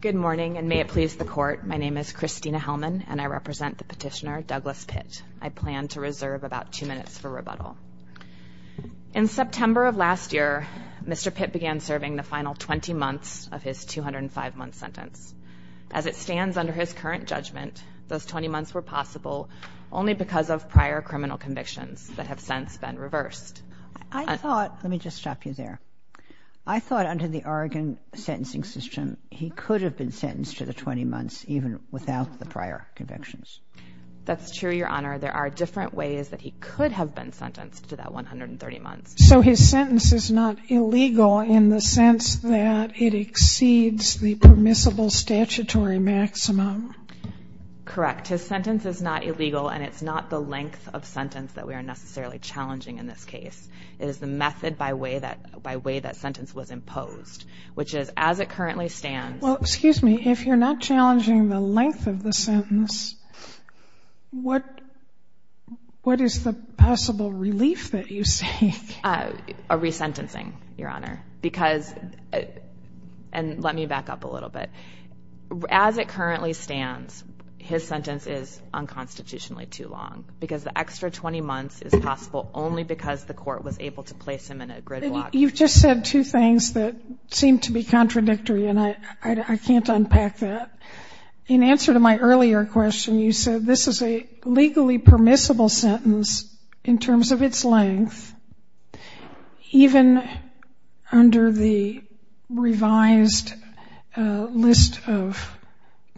Good morning, and may it please the Court, my name is Christina Hellman, and I represent the petitioner, Douglas Pitt. I plan to reserve about two minutes for rebuttal. In September of last year, Mr. Pitt began serving the final 20 months of his 205-month sentence. As it stands under his current judgment, those 20 months were possible only because of prior criminal convictions that have since been reversed. I thought, let me just stop you there, I thought under the Oregon sentencing system he could have been sentenced to the 20 months even without the prior convictions. That's true, Your Honor. There are different ways that he could have been sentenced to that 130 months. So his sentence is not illegal in the sense that it exceeds the permissible statutory maximum? Correct. His sentence is not illegal, and it's not the length of sentence that we are necessarily challenging in this case. It is the method by way that sentence was imposed, which is as it currently stands Well, excuse me, if you're not challenging the length of the sentence, what is the possible relief that you seek? A resentencing, Your Honor, because, and let me back up a little bit, as it currently stands, his sentence is unconstitutionally too long because the extra 20 months is possible only because the court was able to place him in a gridlock. You've just said two things that seem to be contradictory, and I can't unpack that. In answer to my earlier question, you said this is a legally permissible sentence in terms of its length, even under the revised list of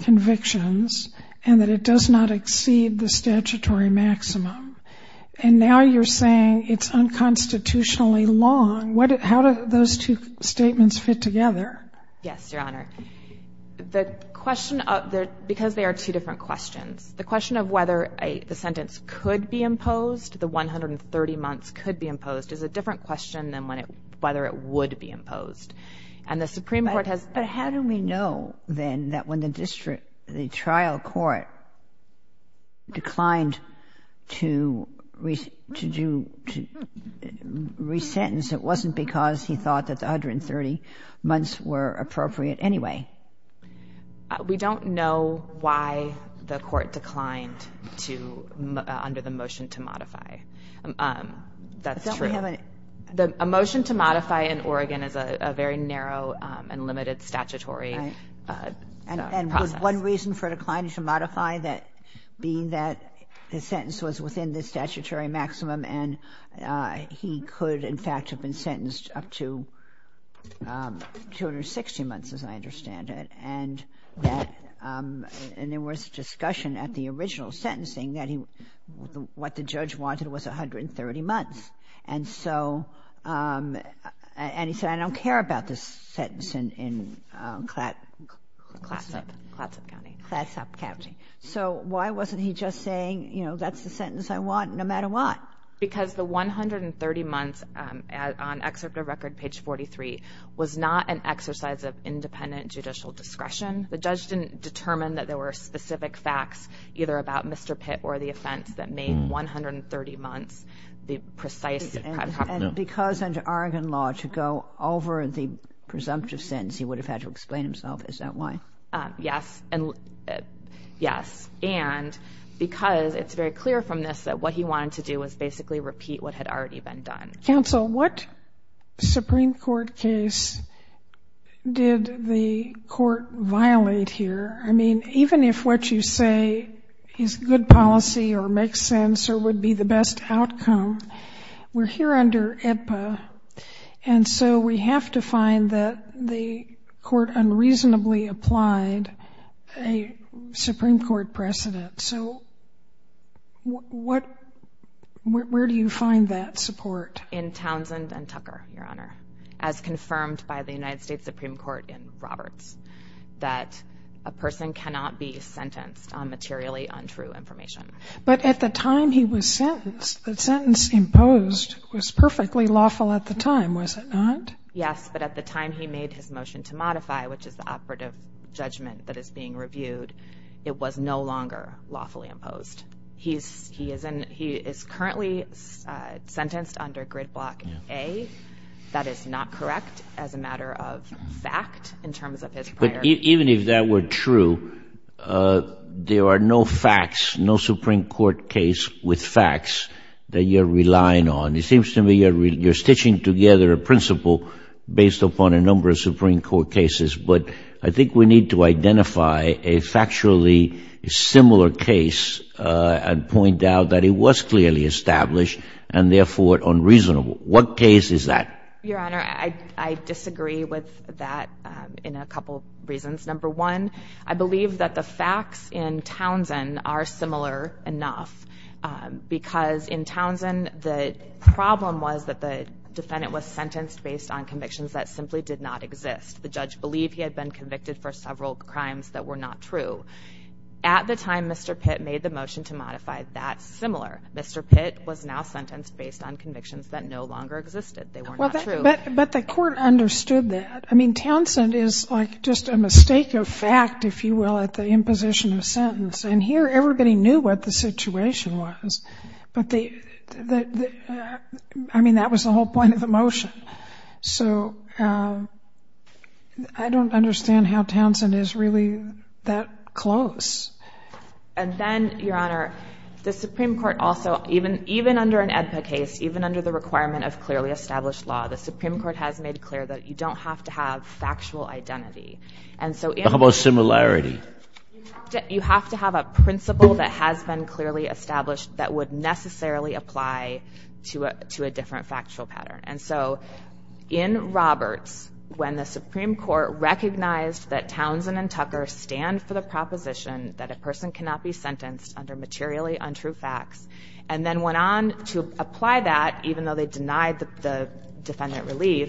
convictions, and that it does not exceed the statutory maximum. And now you're saying it's unconstitutionally long. How do those two statements fit together? Yes, Your Honor. The question, because they are two different questions, the question of whether the sentence could be imposed, the 130 months could be imposed, is a different question than whether it would be imposed. And the Supreme Court has But how do we know, then, that when the district, the trial court declined to do, to resentence, it wasn't because he thought that the 130 months were appropriate anyway? We don't know why the court declined to, under the motion to modify. That's true. But don't we have an A motion to modify in Oregon is a very narrow and limited statutory process. And was one reason for declining to modify that, being that his sentence was within the statutory maximum and he could, in fact, have been sentenced up to 260 months, as I understand it, and that there was discussion at the original sentencing that what the judge wanted was 130 months. And so, and he said, I don't care about this sentence in Clatsop County. So why wasn't he just saying, you know, that's the sentence I want, no matter what? Because the 130 months on excerpt of record, page 43, was not an exercise of independent judicial discretion. The judge didn't determine that there were specific facts, either about Mr. Pitt or the offense, that made 130 months the precise And because under Oregon law, to go over the presumptive sentence, he would have had to explain himself. Is that why? Yes, and yes. And because it's very clear from this that what he wanted to do was basically repeat what had already been done. Counsel, what Supreme Court case did the court violate here? I mean, even if what you say is good policy or makes sense or would be the best outcome, we're here under IPA. And so we have to find that the court unreasonably applied a Supreme Court precedent. So where do you find that support? In Townsend and Tucker, Your Honor, as confirmed by the United States Supreme Court in Roberts, that a person cannot be sentenced on materially untrue information. But at the time he was sentenced, the sentence imposed was perfectly lawful at the time, was it not? Yes, but at the time he made his motion to modify, which is the operative judgment that is being reviewed, it was no longer lawfully imposed. He is currently sentenced under grid block A. That is not correct as a matter of fact in terms of his prior... But even if that were true, there are no facts, no Supreme Court case with facts that you're stitching together a principle based upon a number of Supreme Court cases. But I think we need to identify a factually similar case and point out that it was clearly established and therefore unreasonable. What case is that? Your Honor, I disagree with that in a couple reasons. Number one, I believe that the facts in Townsend are similar enough because in Townsend, the problem was that the defendant was sentenced based on convictions that simply did not exist. The judge believed he had been convicted for several crimes that were not true. At the time Mr. Pitt made the motion to modify, that's similar. Mr. Pitt was now sentenced based on convictions that no longer existed. They were not true. But the court understood that. I mean, Townsend is like just a mistake of fact, if you will, at the imposition of a sentence. And here, everybody knew what the situation was. I mean, that was the whole point of the motion. So I don't understand how Townsend is really that close. And then, Your Honor, the Supreme Court also, even under an AEDPA case, even under the requirement of clearly established law, the Supreme Court has made clear that you don't have to have factual identity. And so... Talk about similarity. You have to have a principle that has been clearly established that would necessarily apply to a different factual pattern. And so in Roberts, when the Supreme Court recognized that Townsend and Tucker stand for the proposition that a person cannot be sentenced under materially untrue facts, and then went on to apply that, even though they denied the defendant relief,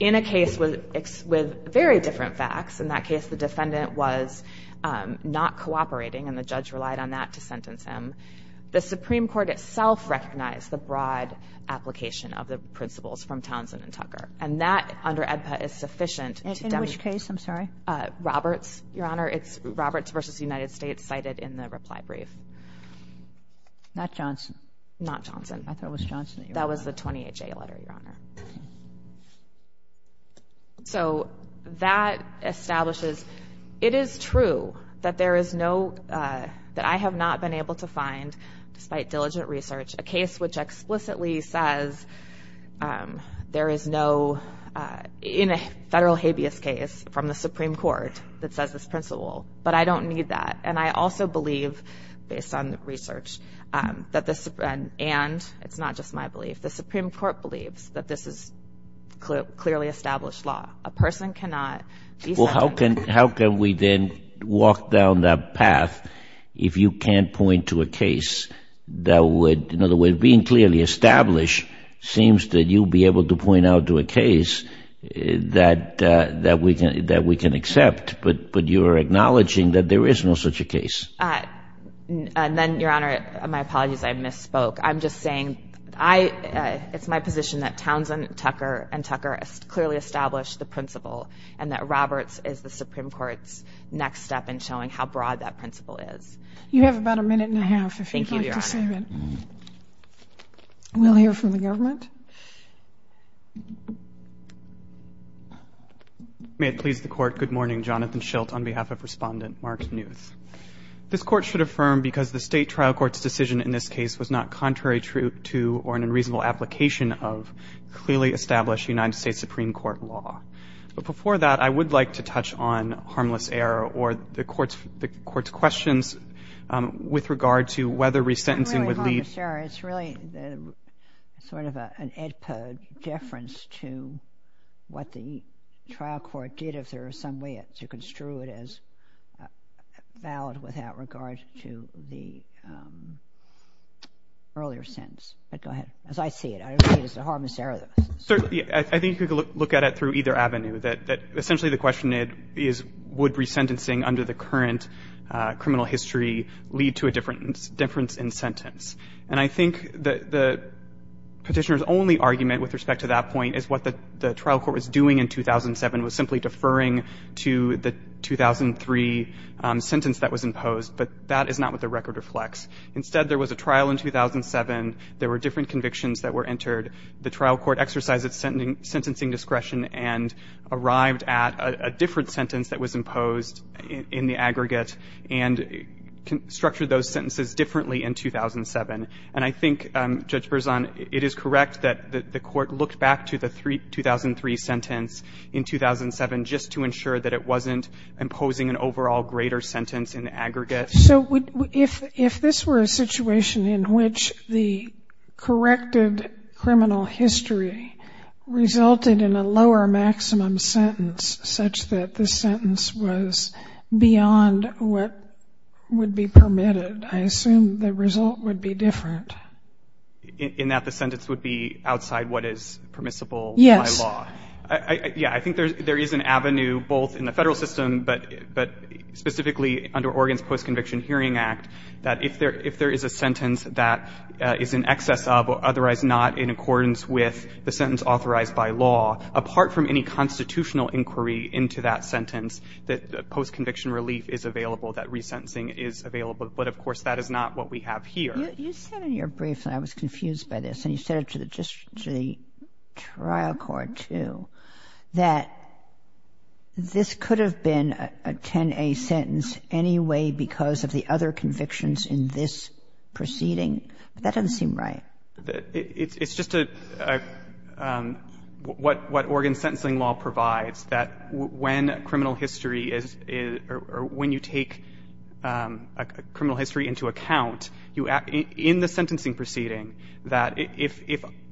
in a case with very different facts, in that case, the defendant was not cooperating and the judge relied on that to sentence him, the Supreme Court itself recognized the broad application of the principles from Townsend and Tucker. And that, under AEDPA, is sufficient to demonstrate... And in which case? I'm sorry. Roberts, Your Honor. It's Roberts v. United States cited in the reply brief. Not Johnson. Not Johnson. I thought it was Johnson. That was the 20HA letter, Your Honor. So that establishes... It is true that there is no... That I have not been able to find, despite diligent research, a case which explicitly says there is no... In a federal habeas case from the Supreme Court that says this principle, but I don't need that. And I also believe, based on research, that the... And it's not just my belief, the Supreme Court believes that this is clearly established law. A person cannot... Well, how can we then walk down that path if you can't point to a case that would... In other words, being clearly established seems that you'll be able to point out to a case that we can accept, but you're acknowledging that there is no such a case. And then, Your Honor, my apologies, I misspoke. I'm just saying I... It's my position that Townsend, Tucker, and Tucker clearly established the principle, and that Roberts is the Supreme Court's next step in showing how broad that principle is. You have about a minute and a half, if you'd like to save it. Thank you, Your Honor. We'll hear from the government. May it please the Court, good morning. Jonathan Schilt on behalf of Respondent Mark Newth. This Court should affirm because the State Trial Court's decision in this case was not contrary to or an unreasonable application of clearly established United States Supreme Court law. But before that, I would like to touch on Harmless Error or the Court's questions with regard to whether resentencing would lead... Harmless Error, it's really sort of an AEDPA deference to what the trial court did if there is some way to construe it as valid without regard to the earlier sentence. But go ahead. As I see it, I believe it's a Harmless Error. Certainly. I think you could look at it through either avenue, that essentially the question is, would resentencing under the current criminal history lead to a difference in sentence? And I think the Petitioner's only argument with respect to that point is what the trial court was doing in 2007 was simply deferring to the 2003 sentence that was imposed. But that is not what the record reflects. Instead, there was a trial in 2007. There were different convictions that were entered. The trial court exercised its sentencing discretion and arrived at a different sentence that was imposed in the aggregate and structured those sentences differently in 2007. And I think, Judge Berzon, it is correct that the court looked back to the 2003 sentence in 2007 just to ensure that it wasn't imposing an overall greater sentence in the aggregate. So if this were a situation in which the corrected criminal history resulted in a lower maximum sentence such that the sentence was beyond what would be permitted, I assume the result would be different. In that the sentence would be outside what is permissible by law? Yes. Yeah, I think there is an avenue both in the federal system but specifically under Oregon's Post-Conviction Hearing Act that if there is a sentence that is in excess of or otherwise not in accordance with the sentence authorized by law, apart from any constitutional inquiry into that sentence, that post-conviction relief is available, that resentencing is available. But of course, that is not what we have here. You said in your brief, and I was confused by this, and you said it to the trial court too, that this could have been a 10A sentence anyway because of the other convictions in this proceeding. That doesn't seem right. It's just what Oregon's sentencing law provides, that when criminal history is, or when you take criminal history into account, in the sentencing proceeding, that if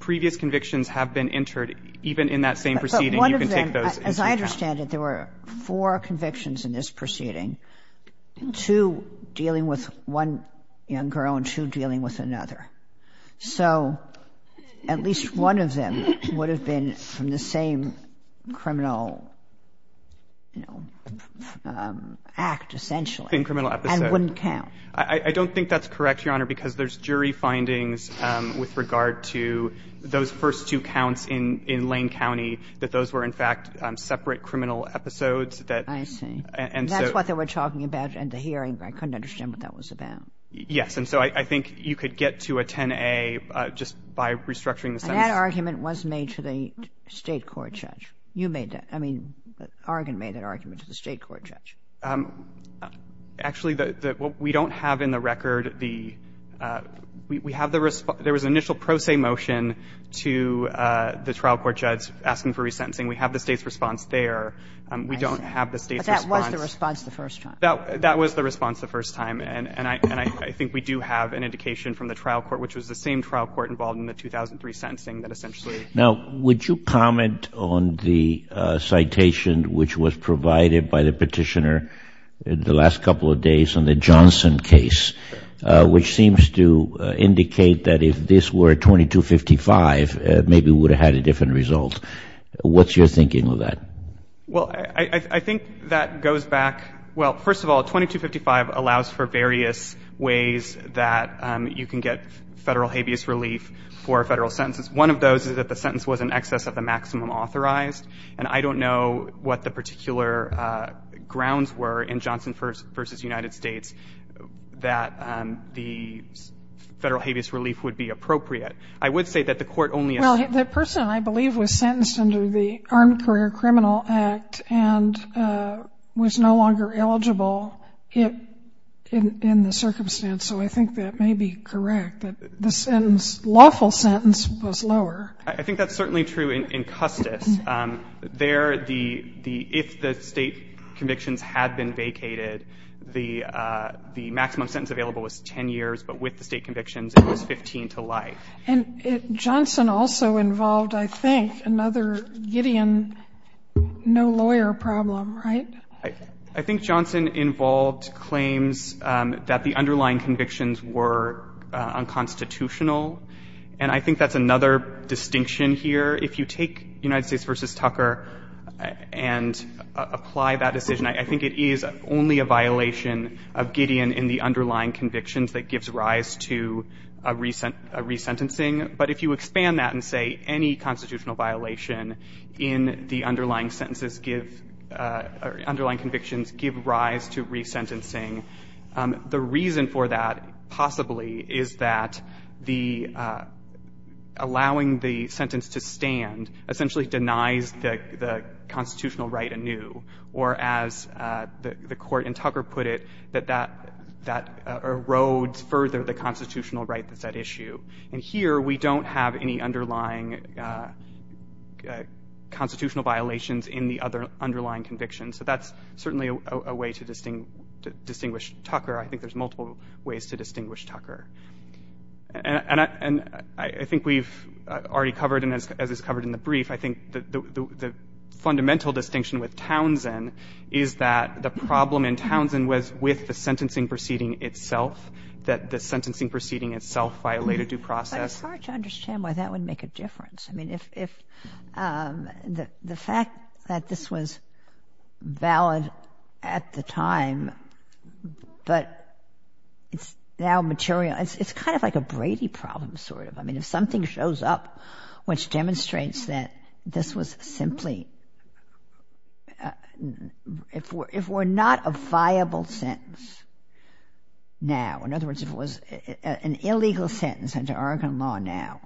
previous convictions have been entered even in that same proceeding, you can take those into account. As I understand it, there were four convictions in this proceeding, two dealing with one young girl and two dealing with another. So at least one of them would have been from the same criminal, you know, act, essentially, and wouldn't count. I don't think that's correct, Your Honor, because there's jury findings with regard to those first two counts in Lane County, that those were, in fact, separate criminal episodes that, and so That's what they were talking about in the hearing, but I couldn't understand what that was about. Yes, and so I think you could get to a 10A just by restructuring the sentence. And that argument was made to the State court judge. You made that. I mean, Oregon made that argument to the State court judge. Actually, what we don't have in the record, we have the response. There was an initial pro se motion to the trial court judge asking for resentencing. We have the State's response there. We don't have the State's response. But that was the response the first time. That was the response the first time, and I think we do have an indication from the trial court, which was the same trial court involved in the 2003 sentencing that essentially Now, would you comment on the citation which was provided by the Petitioner the last couple of days on the Johnson case, which seems to indicate that if this were 2255, it maybe would have had a different result. What's your thinking of that? Well, I think that goes back, well, first of all, 2255 allows for various ways that you can get Federal habeas relief for Federal sentences. One of those is that the sentence was in excess of the maximum authorized, and I don't know what the particular grounds were in Johnson v. United States that the Federal habeas relief would be appropriate. I would say that the court only Well, the person, I believe, was sentenced under the Armed Career Criminal Act and was no longer eligible in the circumstance, so I think that may be correct, that the sentence, lawful sentence, was lower. I think that's certainly true in Custis. There, if the state convictions had been vacated, the maximum sentence available was 10 years, but with the state convictions, it was 15 to life. And Johnson also involved, I think, another Gideon no lawyer problem, right? I think Johnson involved claims that the underlying convictions were unconstitutional, and I think that's another distinction here. If you take United States v. Tucker and apply that decision, I think it is only a violation of Gideon in the underlying convictions that gives rise to a resentencing. But if you expand that and say any constitutional violation in the underlying sentences give, underlying convictions give rise to resentencing, the reason for that possibly is that the allowing the sentence to stand essentially denies the constitutional right anew, or as the Court in Tucker put it, that that erodes further the constitutional right that's at issue. And here, we don't have any underlying constitutional violations in the other underlying convictions. So that's certainly a way to distinguish Tucker. I think there's multiple ways to distinguish Tucker, and I think we've already covered, and as is covered in the brief, I think the fundamental distinction with Townsend is that the problem in Townsend was with the sentencing proceeding itself, that the sentencing proceeding itself violated due process. But it's hard to understand why that would make a difference. I mean, if the fact that this was valid at the time, but it's now material, it's kind of like a Brady problem, sort of. I mean, if something shows up which demonstrates that this was simply, if we're not a an illegal sentence under Oregon law now,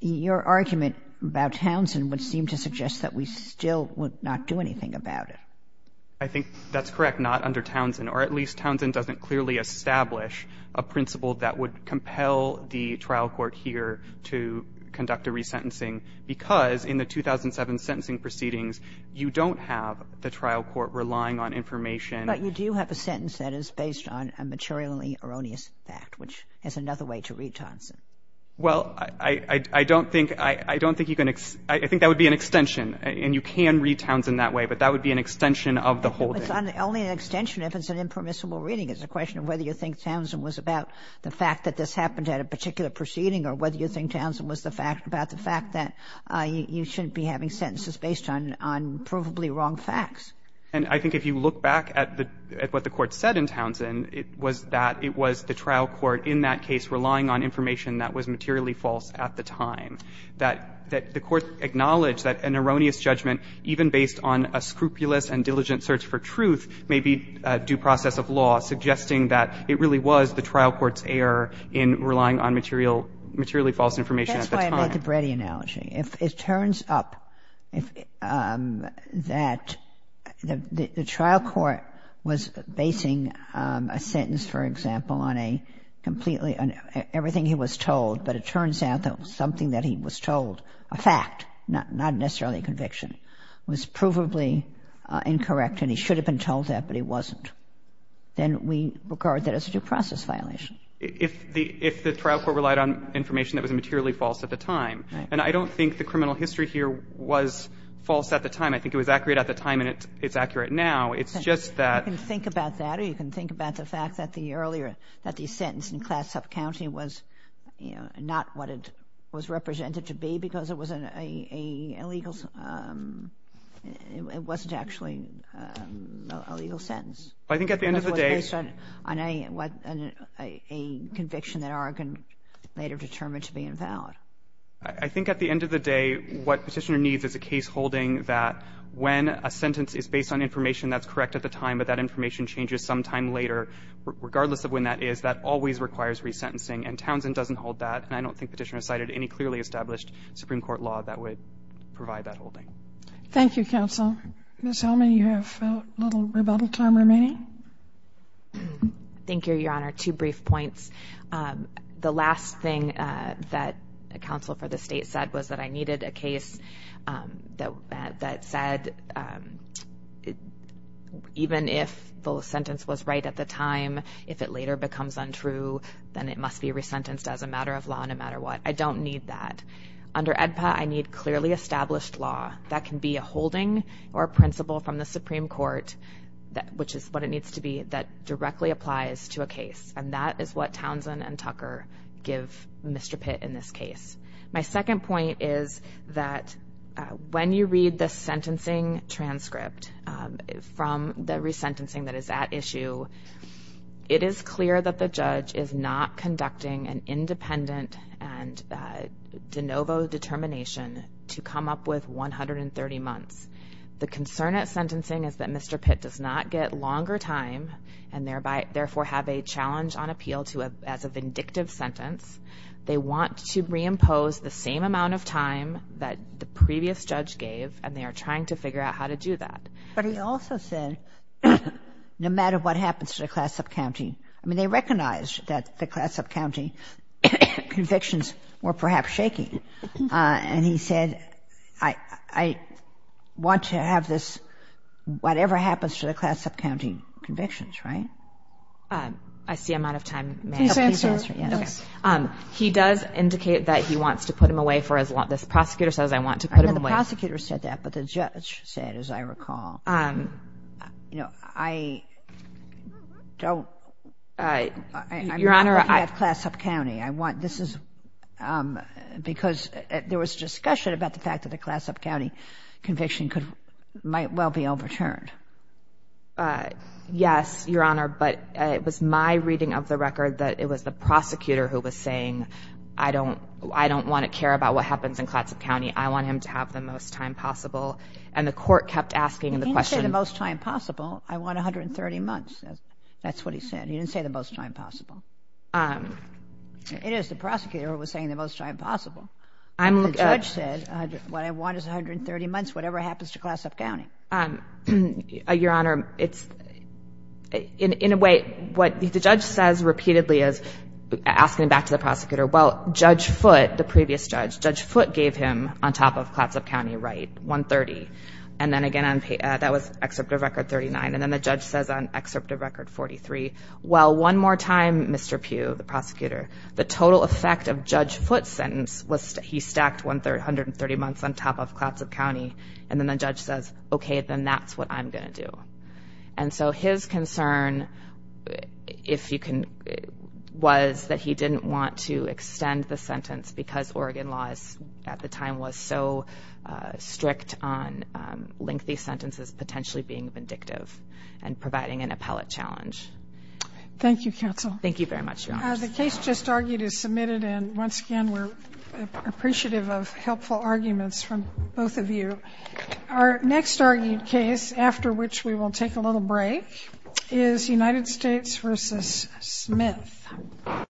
your argument about Townsend would seem to suggest that we still would not do anything about it. I think that's correct, not under Townsend. Or at least Townsend doesn't clearly establish a principle that would compel the trial court here to conduct a resentencing, because in the 2007 sentencing proceedings, you don't have the trial court relying on information. But you do have a sentence that is based on a materially erroneous fact, which is another way to read Townsend. Well, I don't think you can, I think that would be an extension, and you can read Townsend that way, but that would be an extension of the whole thing. It's only an extension if it's an impermissible reading. It's a question of whether you think Townsend was about the fact that this happened at a particular proceeding, or whether you think Townsend was about the fact that you shouldn't be having sentences based on provably wrong facts. And I think if you look back at what the Court said in Townsend, it was that it was the trial court in that case relying on information that was materially false at the time. That the Court acknowledged that an erroneous judgment, even based on a scrupulous and diligent search for truth, may be due process of law, suggesting that it really was the trial court's error in relying on materially false information at the time. That's why I made the Brady analogy. If it turns up that the trial court was basing a sentence, for example, on a completely – on everything he was told, but it turns out that something that he was told, a fact, not necessarily a conviction, was provably incorrect, and he should have been told that, but he wasn't, then we regard that as a due process violation. If the trial court relied on information that was materially false at the time, and I don't think the criminal history here was false at the time. I think it was accurate at the time, and it's accurate now. It's just that – You can think about that, or you can think about the fact that the earlier – that the sentence in Classup County was, you know, not what it was represented to be because it was an illegal – it wasn't actually a legal sentence. I think at the end of the day – Because it was based on a conviction that Oregon later determined to be invalid. I think at the end of the day, what Petitioner needs is a case holding that when a sentence is based on information that's correct at the time, but that information changes some time later, regardless of when that is, that always requires resentencing, and Townsend doesn't hold that, and I don't think Petitioner cited any clearly established Supreme Court law that would provide that holding. Thank you, counsel. Ms. Hellman, you have a little rebuttal time remaining. Thank you, Your Honor. Two brief points. The last thing that a counsel for the State said was that I needed a case that said even if the sentence was right at the time, if it later becomes untrue, then it must be resentenced as a matter of law no matter what. I don't need that. Under AEDPA, I need clearly established law that can be a holding or a principle from the Supreme Court, which is what it needs to be, that directly applies to a case, and that is what Townsend and Tucker give Mr. Pitt in this case. My second point is that when you read the sentencing transcript from the resentencing that is at issue, it is clear that the judge is not conducting an independent and de novo determination to come up with 130 months. The concern at sentencing is that Mr. Pitt does not get longer time and therefore have a challenge on appeal as a vindictive sentence. They want to reimpose the same amount of time that the previous judge gave, and they are trying to figure out how to do that. But he also said no matter what happens to the class of county. I mean, they recognized that the class of county convictions were perhaps shaky, and he said, I want to have this, whatever happens to the class of county convictions, right? I see I'm out of time. Please answer. He does indicate that he wants to put him away for as long, this prosecutor says, I want to put him away. I know the prosecutor said that, but the judge said, as I recall. You know, I don't, I'm not looking at class of county. I want, this is, because there was discussion about the fact that the class of county conviction could, might well be overturned. Uh, yes, Your Honor. But it was my reading of the record that it was the prosecutor who was saying, I don't, I don't want to care about what happens in class of county. I want him to have the most time possible. And the court kept asking the question, the most time possible. I want 130 months. That's what he said. He didn't say the most time possible. Um, it is the prosecutor was saying the most time possible. I'm the judge said what I want is 130 months, whatever happens to class of county. Um, Your Honor, it's in a way, what the judge says repeatedly is asking him back to the prosecutor. Well, judge foot, the previous judge, judge foot gave him on top of collapse of county right. One 30. And then again, that was excerpt of record 39. And then the judge says on excerpt of record 43. Well, one more time, Mr. Pugh, the prosecutor, the total effect of judge foot sentence was he stacked 130 months on top of collapse of county. And then the judge says, okay, then that's what I'm going to do. And so his concern, if you can, was that he didn't want to extend the sentence because Oregon laws at the time was so strict on lengthy sentences, potentially being vindictive and providing an appellate challenge. Thank you, counsel. Thank you very much. The case just argued is submitted. And once again, we're appreciative of helpful arguments from both of you. Our next argued case, after which we will take a little break, is United States versus Smith.